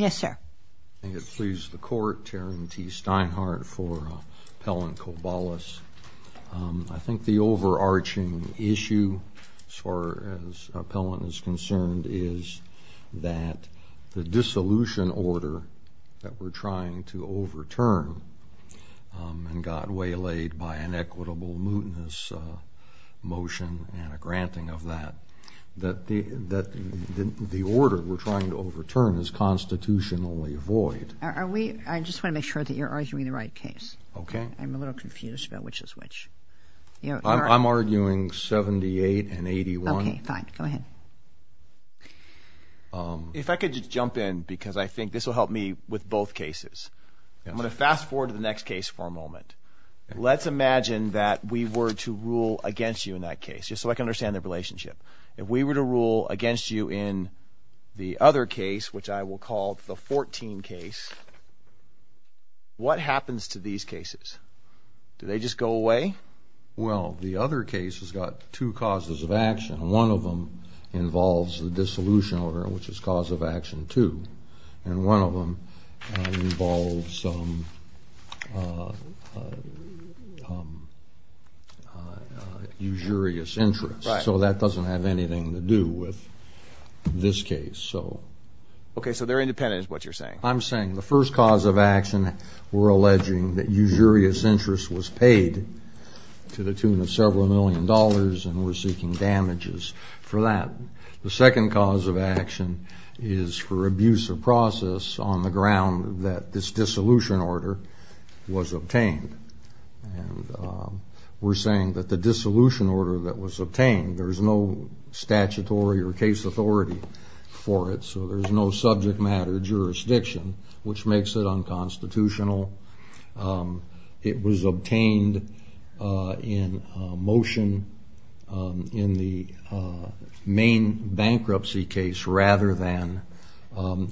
I think it pleases the Court, Taryn T. Steinhardt for Pellant-Cobalis. I think the overarching issue, as far as Pellant is concerned, is that the dissolution order that we're trying to overturn, and got waylaid by an equitable mootness motion and a granting of that, that the order we're trying to overturn is constitutionally void. Are we, I just want to make sure that you're arguing the right case. Okay. I'm a little confused about which is which. I'm arguing 78 and 81. Okay, fine, go ahead. If I could just jump in, because I think this will help me with both cases. I'm going to fast forward to the next case for a moment. Let's imagine that we were to rule against you in that case, just so I can understand the relationship. If we were to rule against you in the other case, which I will call the 14 case, what happens to these cases? Do they just go away? Well, the other case has got two causes of action. One of them involves the dissolution order, which is cause of action two. And one of them involves some usurious interest, so that doesn't have anything to do with this case. Okay, so they're independent is what you're saying. I'm saying the first cause of action, we're alleging that usurious interest was paid to the tune of several million dollars, and we're seeking damages for that. The second cause of action is for abuse of process on the ground that this dissolution order was obtained. We're saying that the dissolution order that was obtained, there's no statutory or case authority for it, so there's no subject matter jurisdiction, which makes it unconstitutional. It was obtained in motion in the main bankruptcy case rather than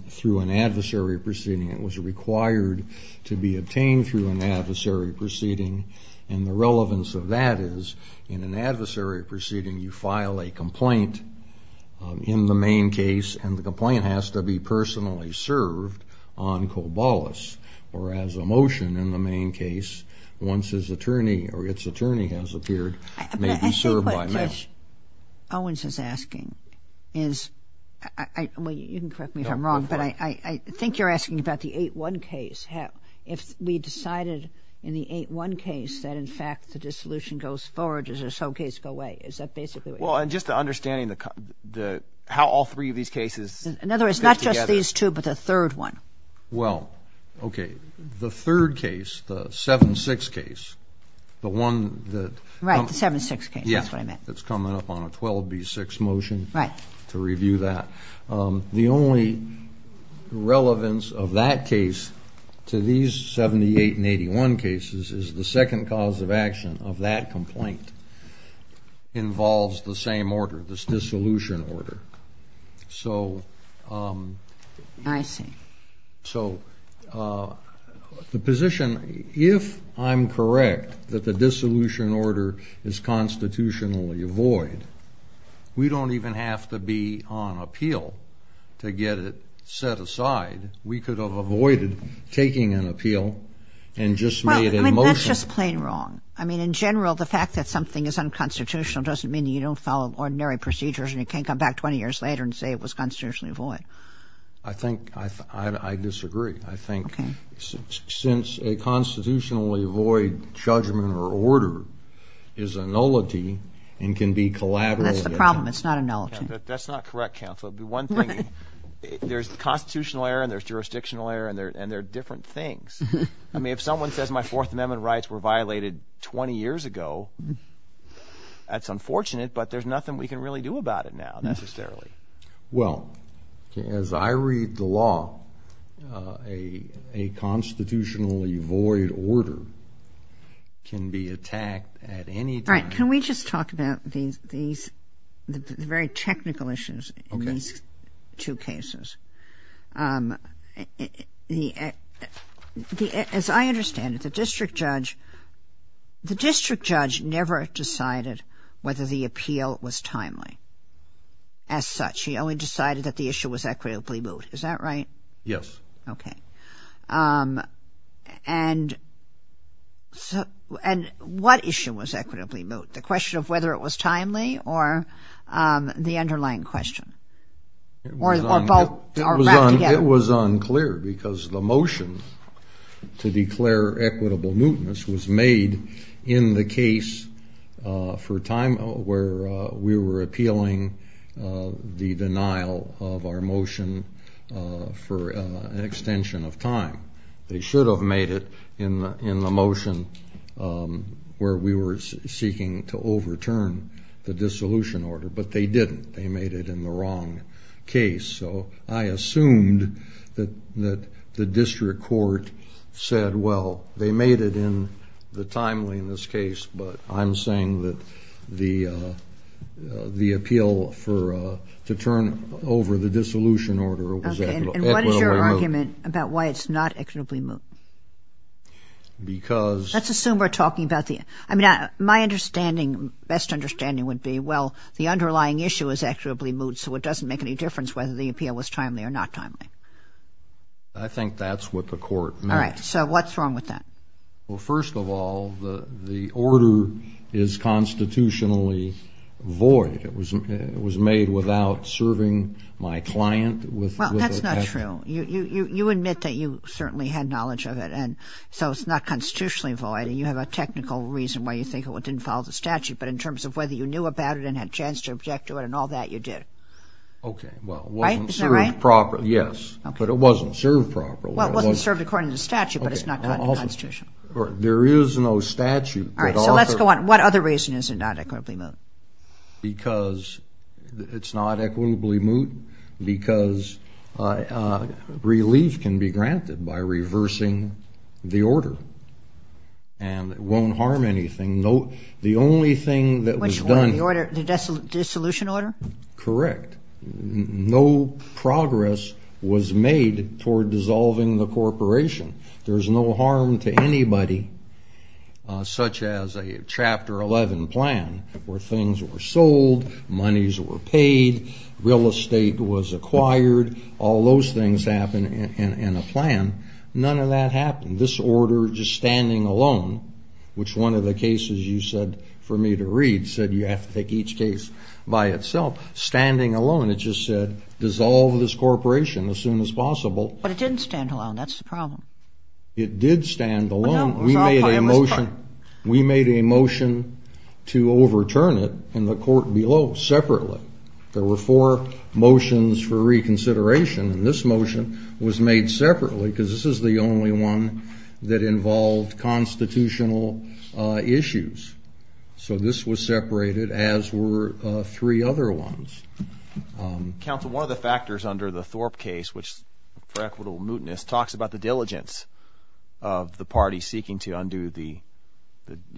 through an adversary proceeding. It was required to be obtained through an adversary proceeding, and the relevance of that is in an adversary proceeding, you file a complaint in the main case, and the complaint has to be personally served on cobolus, or as a motion in the main case, once his attorney or its attorney has appeared, may be served by mail. Owens is asking, is, you can correct me if I'm wrong, but I think you're asking about the 8-1 case. If we decided in the 8-1 case that in fact the dissolution goes forward, does this whole Is that basically what you're saying? Well, and just understanding how all three of these cases fit together. In other words, not just these two, but the third one. Well, okay, the third case, the 7-6 case, the one that Right, the 7-6 case. Yes. That's what I meant. That's coming up on a 12-B-6 motion. Right. To review that. The only relevance of that case to these 78 and 81 cases is the second cause of action of that complaint involves the same order, this dissolution order. So I see. So the position, if I'm correct that the dissolution order is constitutionally void, we don't even have to be on appeal to get it set aside. We could have avoided taking an appeal and just made a motion. Well, I mean, that's just plain wrong. I mean, in general, the fact that something is unconstitutional doesn't mean you don't follow ordinary procedures and you can't come back 20 years later and say it was constitutionally void. I think, I disagree. I think since a constitutionally void judgment or order is a nullity and can be collaterally That's the problem. It's not a nullity. That's not correct, counsel. The one thing, there's constitutional error and there's jurisdictional error and they're different things. I mean, if someone says my Fourth Amendment rights were violated 20 years ago, that's unfortunate, but there's nothing we can really do about it now necessarily. Well, as I read the law, a constitutionally void order can be attacked at any time. All right. Can we just talk about these, the very technical issues in these two cases? As I understand it, the district judge, the district judge never decided whether the appeal was timely as such. He only decided that the issue was equitably moot. Is that right? Yes. Okay. And what issue was equitably moot? The question of whether it was timely or the underlying question? It was unclear because the motion to declare equitable mootness was made in the case for a time where we were appealing the denial of our motion for an extension of time. They should have made it in the motion where we were seeking to overturn the dissolution order, but they didn't. They made it in the wrong case. So I assumed that the district court said, well, they made it in the timeliness case, but I'm saying that the appeal to turn over the dissolution order was equitably moot. Okay. And what is your argument about why it's not equitably moot? Because Let's assume we're talking about the, I mean, my understanding, best understanding would be, well, the underlying issue is equitably moot, so it doesn't make any difference whether the appeal was timely or not timely. I think that's what the court meant. All right. So what's wrong with that? Well, first of all, the order is constitutionally void. It was made without serving my client with Well, that's not true. You admit that you certainly had knowledge of it, and so it's not constitutionally void, and you have a technical reason why you think it didn't follow the statute. But in terms of whether you knew about it and had a chance to object to it and all that, you did. Okay. Well, it wasn't served properly. Right? Isn't that right? Yes. Okay. But it wasn't served properly. Well, it wasn't served according to statute, but it's not constitutional. All right. There is no statute. All right. So let's go on. What other reason is it not equitably moot? Because it's not equitably moot because relief can be granted by reversing the order. And it won't harm anything. The only thing that was done Which one? The order? The dissolution order? Correct. No progress was made toward dissolving the corporation. There's no harm to anybody, such as a Chapter 11 plan, where things were sold, monies were paid, real estate was acquired. All those things happen in a plan. None of that happened. This order, just standing alone, which one of the cases you said for me to read said you have to take each case by itself, standing alone, it just said, dissolve this corporation as soon as possible. But it didn't stand alone. That's the problem. It did stand alone. We made a motion to overturn it in the court below, separately. There were four motions for reconsideration, and this motion was made separately because this is the only one that involved constitutional issues. So this was separated, as were three other ones. Counsel, one of the factors under the Thorpe case, which for equitable mootness, talks about the diligence of the party seeking to undo the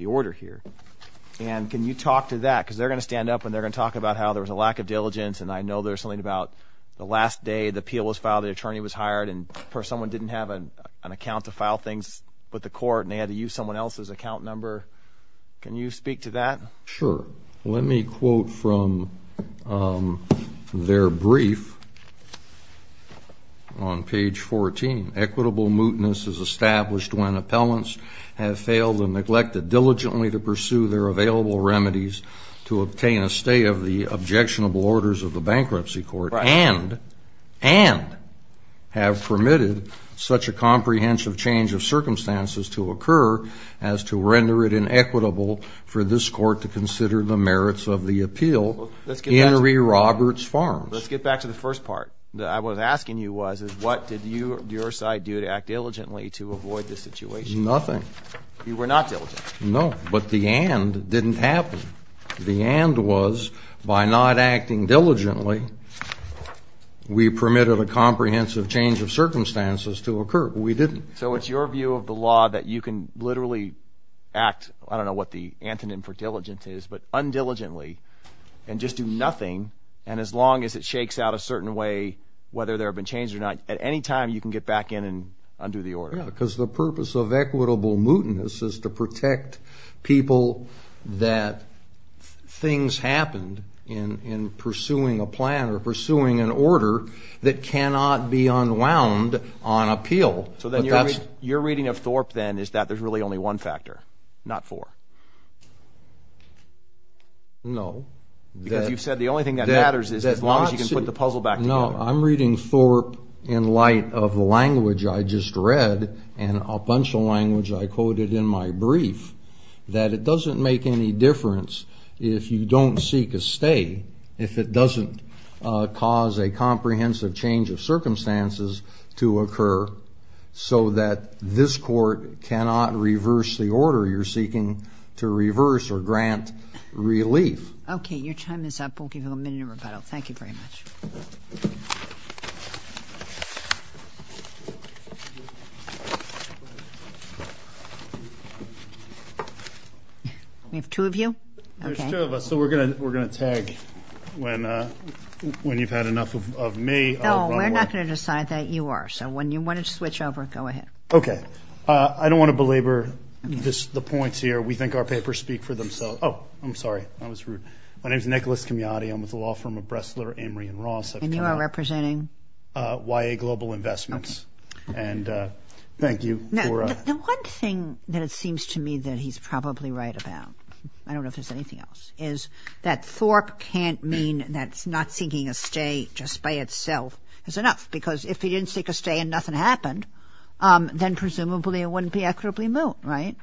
order here. And can you talk to that? Because they're going to stand up and they're going to talk about how there was a lack of diligence and I know there's something about the last day the appeal was filed, the attorney was hired, and someone didn't have an account to file things with the court and they had to use someone else's account number. Can you speak to that? Sure. Let me quote from their brief on page 14. Equitable mootness is established when appellants have failed and neglected diligently to pursue their available remedies to obtain a stay of the objectionable orders of the bankruptcy court and, and have permitted such a comprehensive change of circumstances to occur as to render it inequitable for this court to consider the merits of the appeal, Henry Roberts Farms. Let's get back to the first part that I was asking you was, what did your side do to act diligently to avoid this situation? Nothing. You were not diligent? No. But the and didn't happen. The and was, by not acting diligently, we permitted a comprehensive change of circumstances to occur. We didn't. So it's your view of the law that you can literally act, I don't know what the antonym for diligence is, but undiligently and just do nothing and as long as it shakes out a certain way, whether there have been changes or not, at any time you can get back in and undo the order. Yeah, because the purpose of equitable mootness is to protect people that things happened in pursuing a plan or pursuing an order that cannot be unwound on appeal. So then you're reading of Thorpe then is that there's really only one factor, not four. No. Because you've said the only thing that matters is as long as you can put the puzzle back together. Well, I'm reading Thorpe in light of the language I just read and a bunch of language I quoted in my brief that it doesn't make any difference if you don't seek a stay, if it doesn't cause a comprehensive change of circumstances to occur so that this court cannot reverse the order you're seeking to reverse or grant relief. Okay. Your time is up. We'll give you a minute of rebuttal. Thank you very much. We have two of you. There's two of us, so we're going to tag when you've had enough of me, I'll run away. No, we're not going to decide that you are. So when you want to switch over, go ahead. Okay. I don't want to belabor the points here. We think our papers speak for themselves. Oh, I'm sorry. That was rude. My name is Nicholas Camiotti. I'm with the law firm of Bressler, Emory & Ross. And you are representing? YA Global Investments. Okay. And thank you for... Now, the one thing that it seems to me that he's probably right about, I don't know if there's anything else, is that Thorpe can't mean that not seeking a stay just by itself is enough because if he didn't seek a stay and nothing happened, then presumably it wouldn't be equitably moot, right?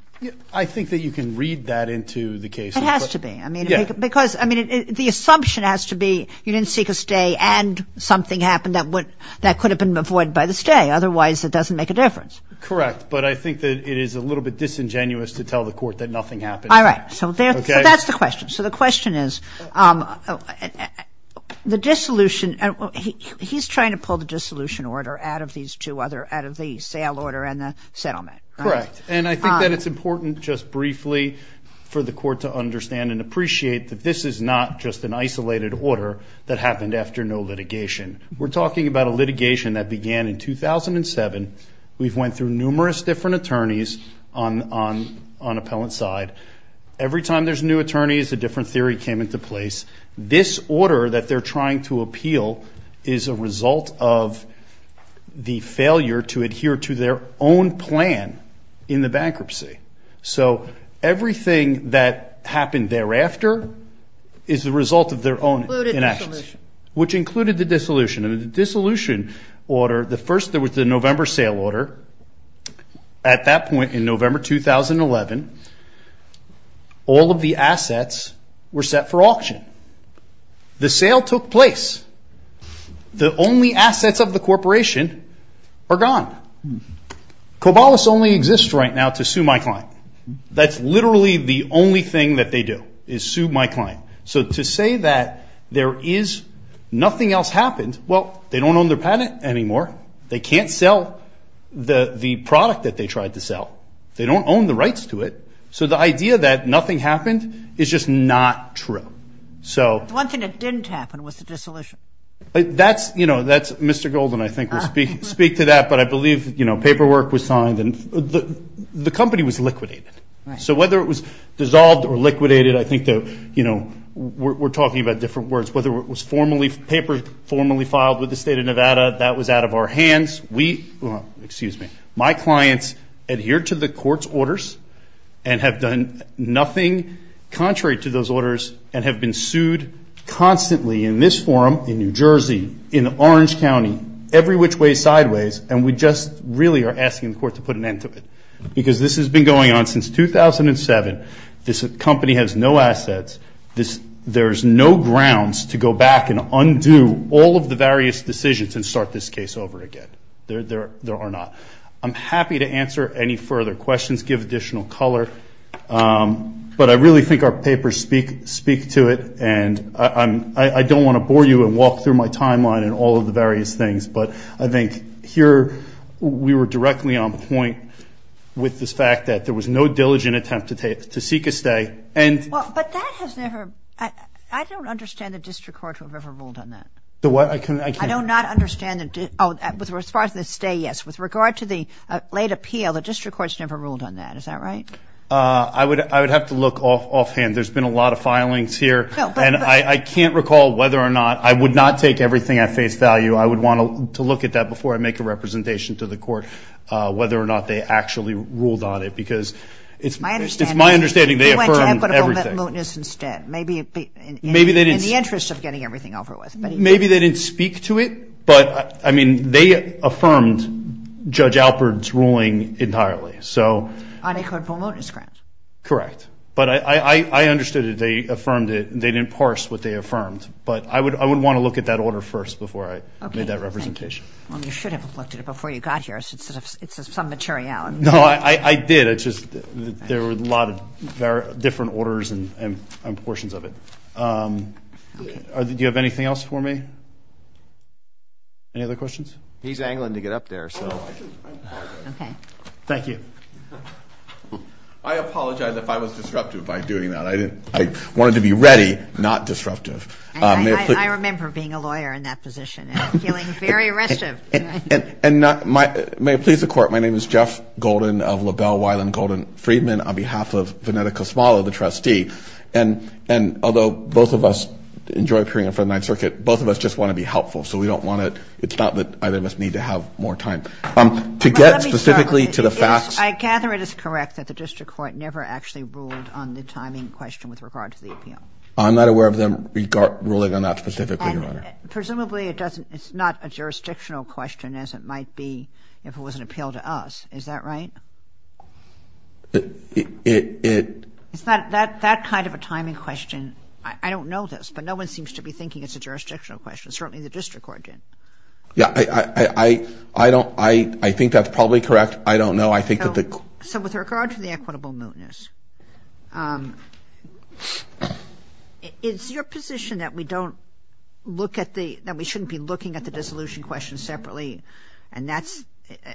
I think that you can read that into the case. It has to be. Yeah. Because, I mean, the assumption has to be you didn't seek a stay and something happened that could have been avoided by the stay. Otherwise, it doesn't make a difference. Correct. But I think that it is a little bit disingenuous to tell the court that nothing happened. All right. So that's the question. So the question is, the dissolution... He's trying to pull the dissolution order out of these two other... out of the sale order and the settlement, right? Correct. And I think that it's important, just briefly, for the court to understand and appreciate that this is not just an isolated order that happened after no litigation. We're talking about a litigation that began in 2007. We've went through numerous different attorneys on appellant side. Every time there's new attorneys, a different theory came into place. This order that they're trying to appeal is a result of the failure to adhere to their own plan in the bankruptcy. So everything that happened thereafter is the result of their own inactions, which included the dissolution. And the dissolution order, the first, there was the November sale order. At that point, in November 2011, all of the assets were set for auction. The sale took place. The only assets of the corporation are gone. Cobolis only exists right now to sue my client. That's literally the only thing that they do, is sue my client. So to say that there is nothing else happened, well, they don't own their patent anymore. They can't sell the product that they tried to sell. They don't own the rights to it. So the idea that nothing happened is just not true. The one thing that didn't happen was the dissolution. That's Mr. Golden, I think, will speak to that. But I believe paperwork was signed and the company was liquidated. So whether it was dissolved or liquidated, I think we're talking about different words. Whether it was papers formally filed with the state of Nevada, that was out of our hands. My clients adhered to the court's orders and have done nothing contrary to those orders and have been sued constantly in this forum in New Jersey, in Orange County, every which way sideways, and we just really are asking the court to put an end to it. Because this has been going on since 2007. This company has no assets. There's no grounds to go back and undo all of the various decisions and start this case over again. There are not. I'm happy to answer any further questions, give additional color. But I really think our papers speak to it. And I don't want to bore you and walk through my timeline and all of the various things. But I think here, we were directly on point with this fact that there was no diligent attempt to seek a stay. And- But that has never, I don't understand the district court who have ever ruled on that. The what, I can- I do not understand the, oh, as far as the stay, yes. With regard to the late appeal, the district court's never ruled on that. Is that right? I would have to look offhand. There's been a lot of filings here. No, but- And I can't recall whether or not, I would not take everything at face value. I would want to look at that before I make a representation to the court, whether or not they actually ruled on it. Because it's my understanding they affirmed everything. They went to equitable mootness instead, maybe in the interest of getting everything over with. Maybe they didn't speak to it. But I mean, they affirmed Judge Alpert's ruling entirely. So- On equitable mootness grounds. Correct. But I understood that they affirmed it. They didn't parse what they affirmed. But I would want to look at that order first before I made that representation. Well, you should have looked at it before you got here. It's some materiality. No, I did. It's just that there were a lot of different orders and portions of it. Do you have anything else for me? Any other questions? He's angling to get up there, so. Okay. Thank you. I apologize if I was disruptive by doing that. I wanted to be ready, not disruptive. I remember being a lawyer in that position and feeling very restive. And may it please the court, my name is Jeff Golden of LaBelle Weiland Golden Friedman on behalf of Venetta Cosmolo, the trustee. And although both of us enjoy appearing for the Ninth Circuit, both of us just want to be helpful. So we don't want to, it's not that either of us need to have more time. To get specifically to the facts. I gather it is correct that the district court never actually ruled on the timing question with regard to the appeal. I'm not aware of them ruling on that specifically, Your Honor. Presumably it's not a jurisdictional question as it might be if it was an appeal to us. Is that right? It. It's not, that kind of a timing question, I don't know this, but no one seems to be thinking it's a jurisdictional question. Certainly the district court didn't. Yeah, I don't, I think that's probably correct, I don't know, I think that the. So with regard to the equitable mootness, is your position that we don't look at the, that we shouldn't be looking at the dissolution question separately? And that's,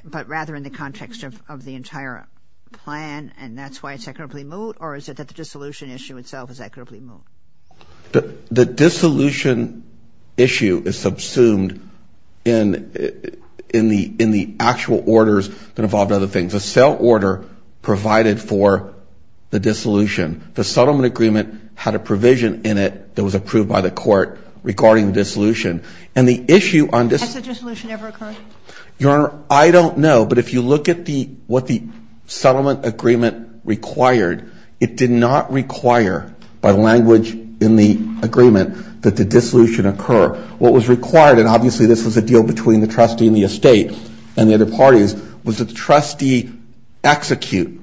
but rather in the context of the entire plan and that's why it's equitably moot, or is it that the dissolution issue itself is equitably moot? The dissolution issue is subsumed in the actual orders that involve other things. A sale order provided for the dissolution. The settlement agreement had a provision in it that was approved by the court regarding the dissolution. And the issue on this- Has the dissolution ever occurred? Your Honor, I don't know, but if you look at what the settlement agreement required, it did not require, by language in the agreement, that the dissolution occur. What was required, and obviously this was a deal between the trustee and the estate and the other parties, was that the trustee execute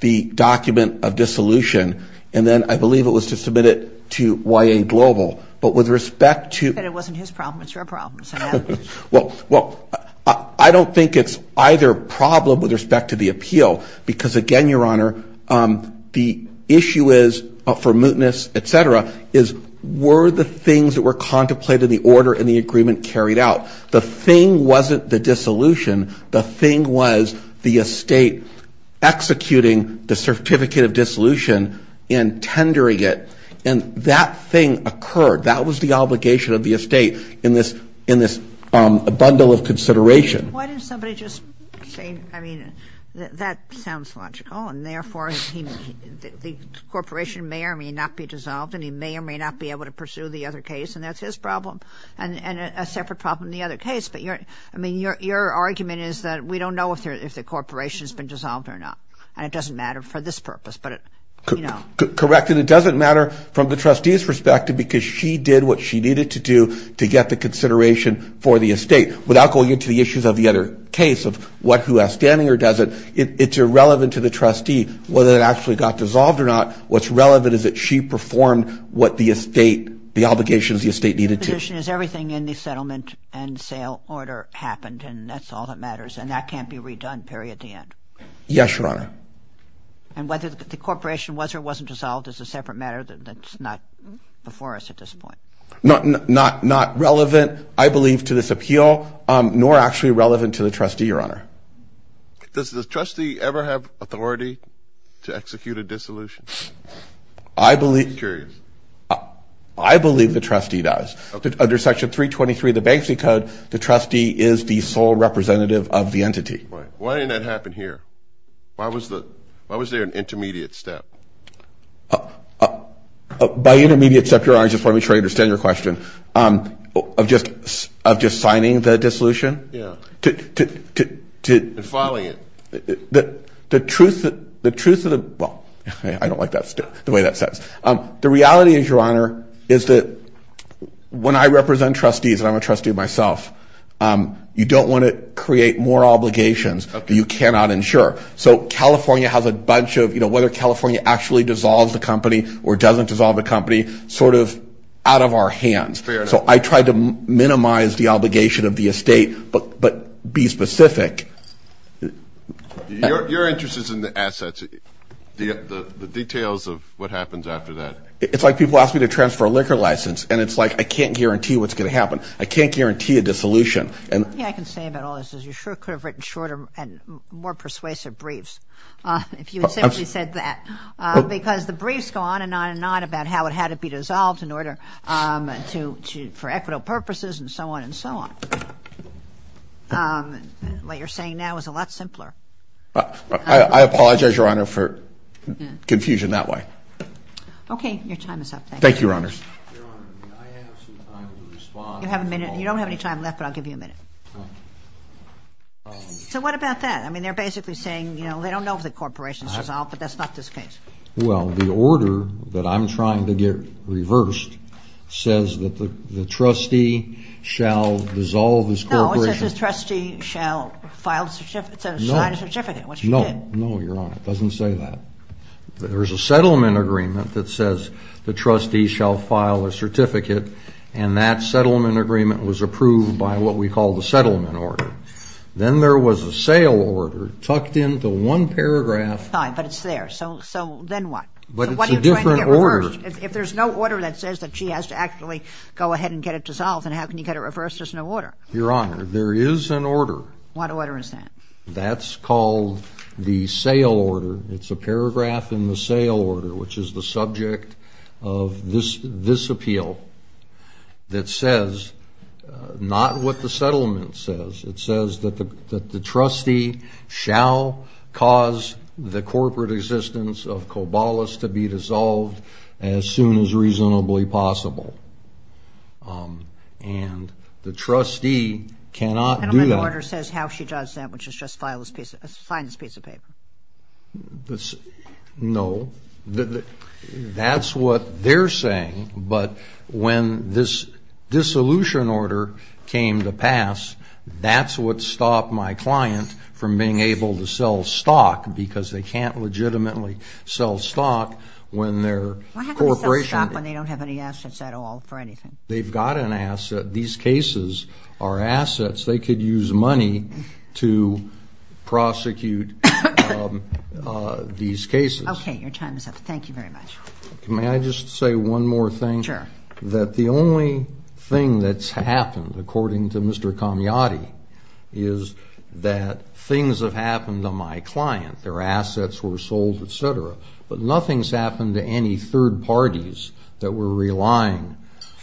the document of dissolution. And then I believe it was to submit it to YA Global. But with respect to- But it wasn't his problem, it's your problem, so no. Well, I don't think it's either problem with respect to the appeal. Because again, Your Honor, the issue is, for mootness, etc., is were the things that were contemplated in the order in the agreement carried out? The thing wasn't the dissolution, the thing was the estate executing the certificate of dissolution and tendering it. And that thing occurred, that was the obligation of the estate in this bundle of consideration. Why didn't somebody just say, I mean, that sounds logical, and therefore the corporation may or may not be dissolved, and he may or may not be able to pursue the other case, and that's his problem. And a separate problem in the other case. But your argument is that we don't know if the corporation's been dissolved or not. And it doesn't matter for this purpose, but you know. Correct, and it doesn't matter from the trustee's perspective, because she did what she needed to do to get the consideration for the other case of what, who has standing or doesn't. It's irrelevant to the trustee whether it actually got dissolved or not. What's relevant is that she performed what the estate, the obligations the estate needed to. My position is everything in the settlement and sale order happened, and that's all that matters, and that can't be redone, period, at the end. Yes, Your Honor. And whether the corporation was or wasn't dissolved is a separate matter that's not before us at this point. Not relevant, I believe, to this appeal, nor actually relevant to the trustee, Your Honor. Does the trustee ever have authority to execute a dissolution? I believe- I'm curious. I believe the trustee does. Under Section 323 of the Banksy Code, the trustee is the sole representative of the entity. Right, why didn't that happen here? Why was there an intermediate step? By intermediate step, Your Honor, I just want to be sure I understand your question. Of just signing the dissolution? Yeah. To- Filing it. The truth of the, well, I don't like that, the way that says. The reality is, Your Honor, is that when I represent trustees, and I'm a trustee myself, you don't want to create more obligations that you cannot insure. So, California has a bunch of, you know, whether California actually dissolves the company or doesn't dissolve the company, sort of out of our hands. Fair enough. So, I try to minimize the obligation of the estate, but be specific. Your interest is in the assets, the details of what happens after that. It's like people ask me to transfer a liquor license, and it's like I can't guarantee what's going to happen. I can't guarantee a dissolution. And- Yeah, I can say about all this is you sure could have written shorter and more persuasive briefs, if you had simply said that, because the briefs go on and on and on about how it had to be dissolved in order to, for equitable purposes, and so on and so on. What you're saying now is a lot simpler. I, I apologize, Your Honor, for confusion that way. Okay, your time is up. Thank you, Your Honors. Your Honor, may I have some time to respond? You have a minute. You don't have any time left, but I'll give you a minute. Okay. So what about that? I mean, they're basically saying, you know, they don't know if the corporation's dissolved, but that's not this case. Well, the order that I'm trying to get reversed says that the, the trustee shall dissolve this corporation. No, it says the trustee shall file a certificate, sign a certificate, which he did. No, no, Your Honor, it doesn't say that. There's a settlement agreement that says the trustee shall file a certificate, and that settlement agreement was approved by what we call the settlement order. Then there was a sale order tucked into one paragraph. Fine, but it's there, so, so then what? But it's a different order. If there's no order that says that she has to actually go ahead and get it dissolved, then how can you get it reversed? There's no order. Your Honor, there is an order. What order is that? That's called the sale order. It's a paragraph in the sale order, which is the subject of this, this appeal. That says, not what the settlement says. It says that the, that the trustee shall cause the corporate existence of Cobalus to be dissolved as soon as reasonably possible. And the trustee cannot do that. And the order says how she does that, which is just file this piece, sign this piece of paper. The, no, the, the, that's what they're saying. But when this dissolution order came to pass, that's what stopped my client from being able to sell stock, because they can't legitimately sell stock when their corporation. Why have them sell stock when they don't have any assets at all for anything? They've got an asset. These cases are assets. They could use money to prosecute these cases. Okay, your time is up. Thank you very much. May I just say one more thing? Sure. That the only thing that's happened, according to Mr. Camiotti, is that things have happened to my client. Their assets were sold, et cetera. But nothing's happened to any third parties that were relying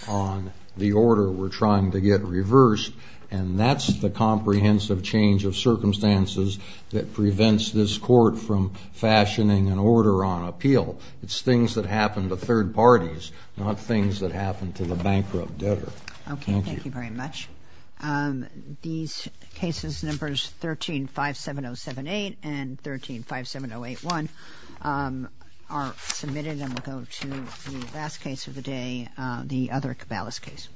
on the order. We're trying to get reversed. And that's the comprehensive change of circumstances that prevents this court from fashioning an order on appeal. It's things that happen to third parties, not things that happen to the bankrupt debtor. Okay, thank you very much. These cases, numbers 13-57078 and 13-57081, are submitted. And we'll go to the last case of the day, the other Cabales case.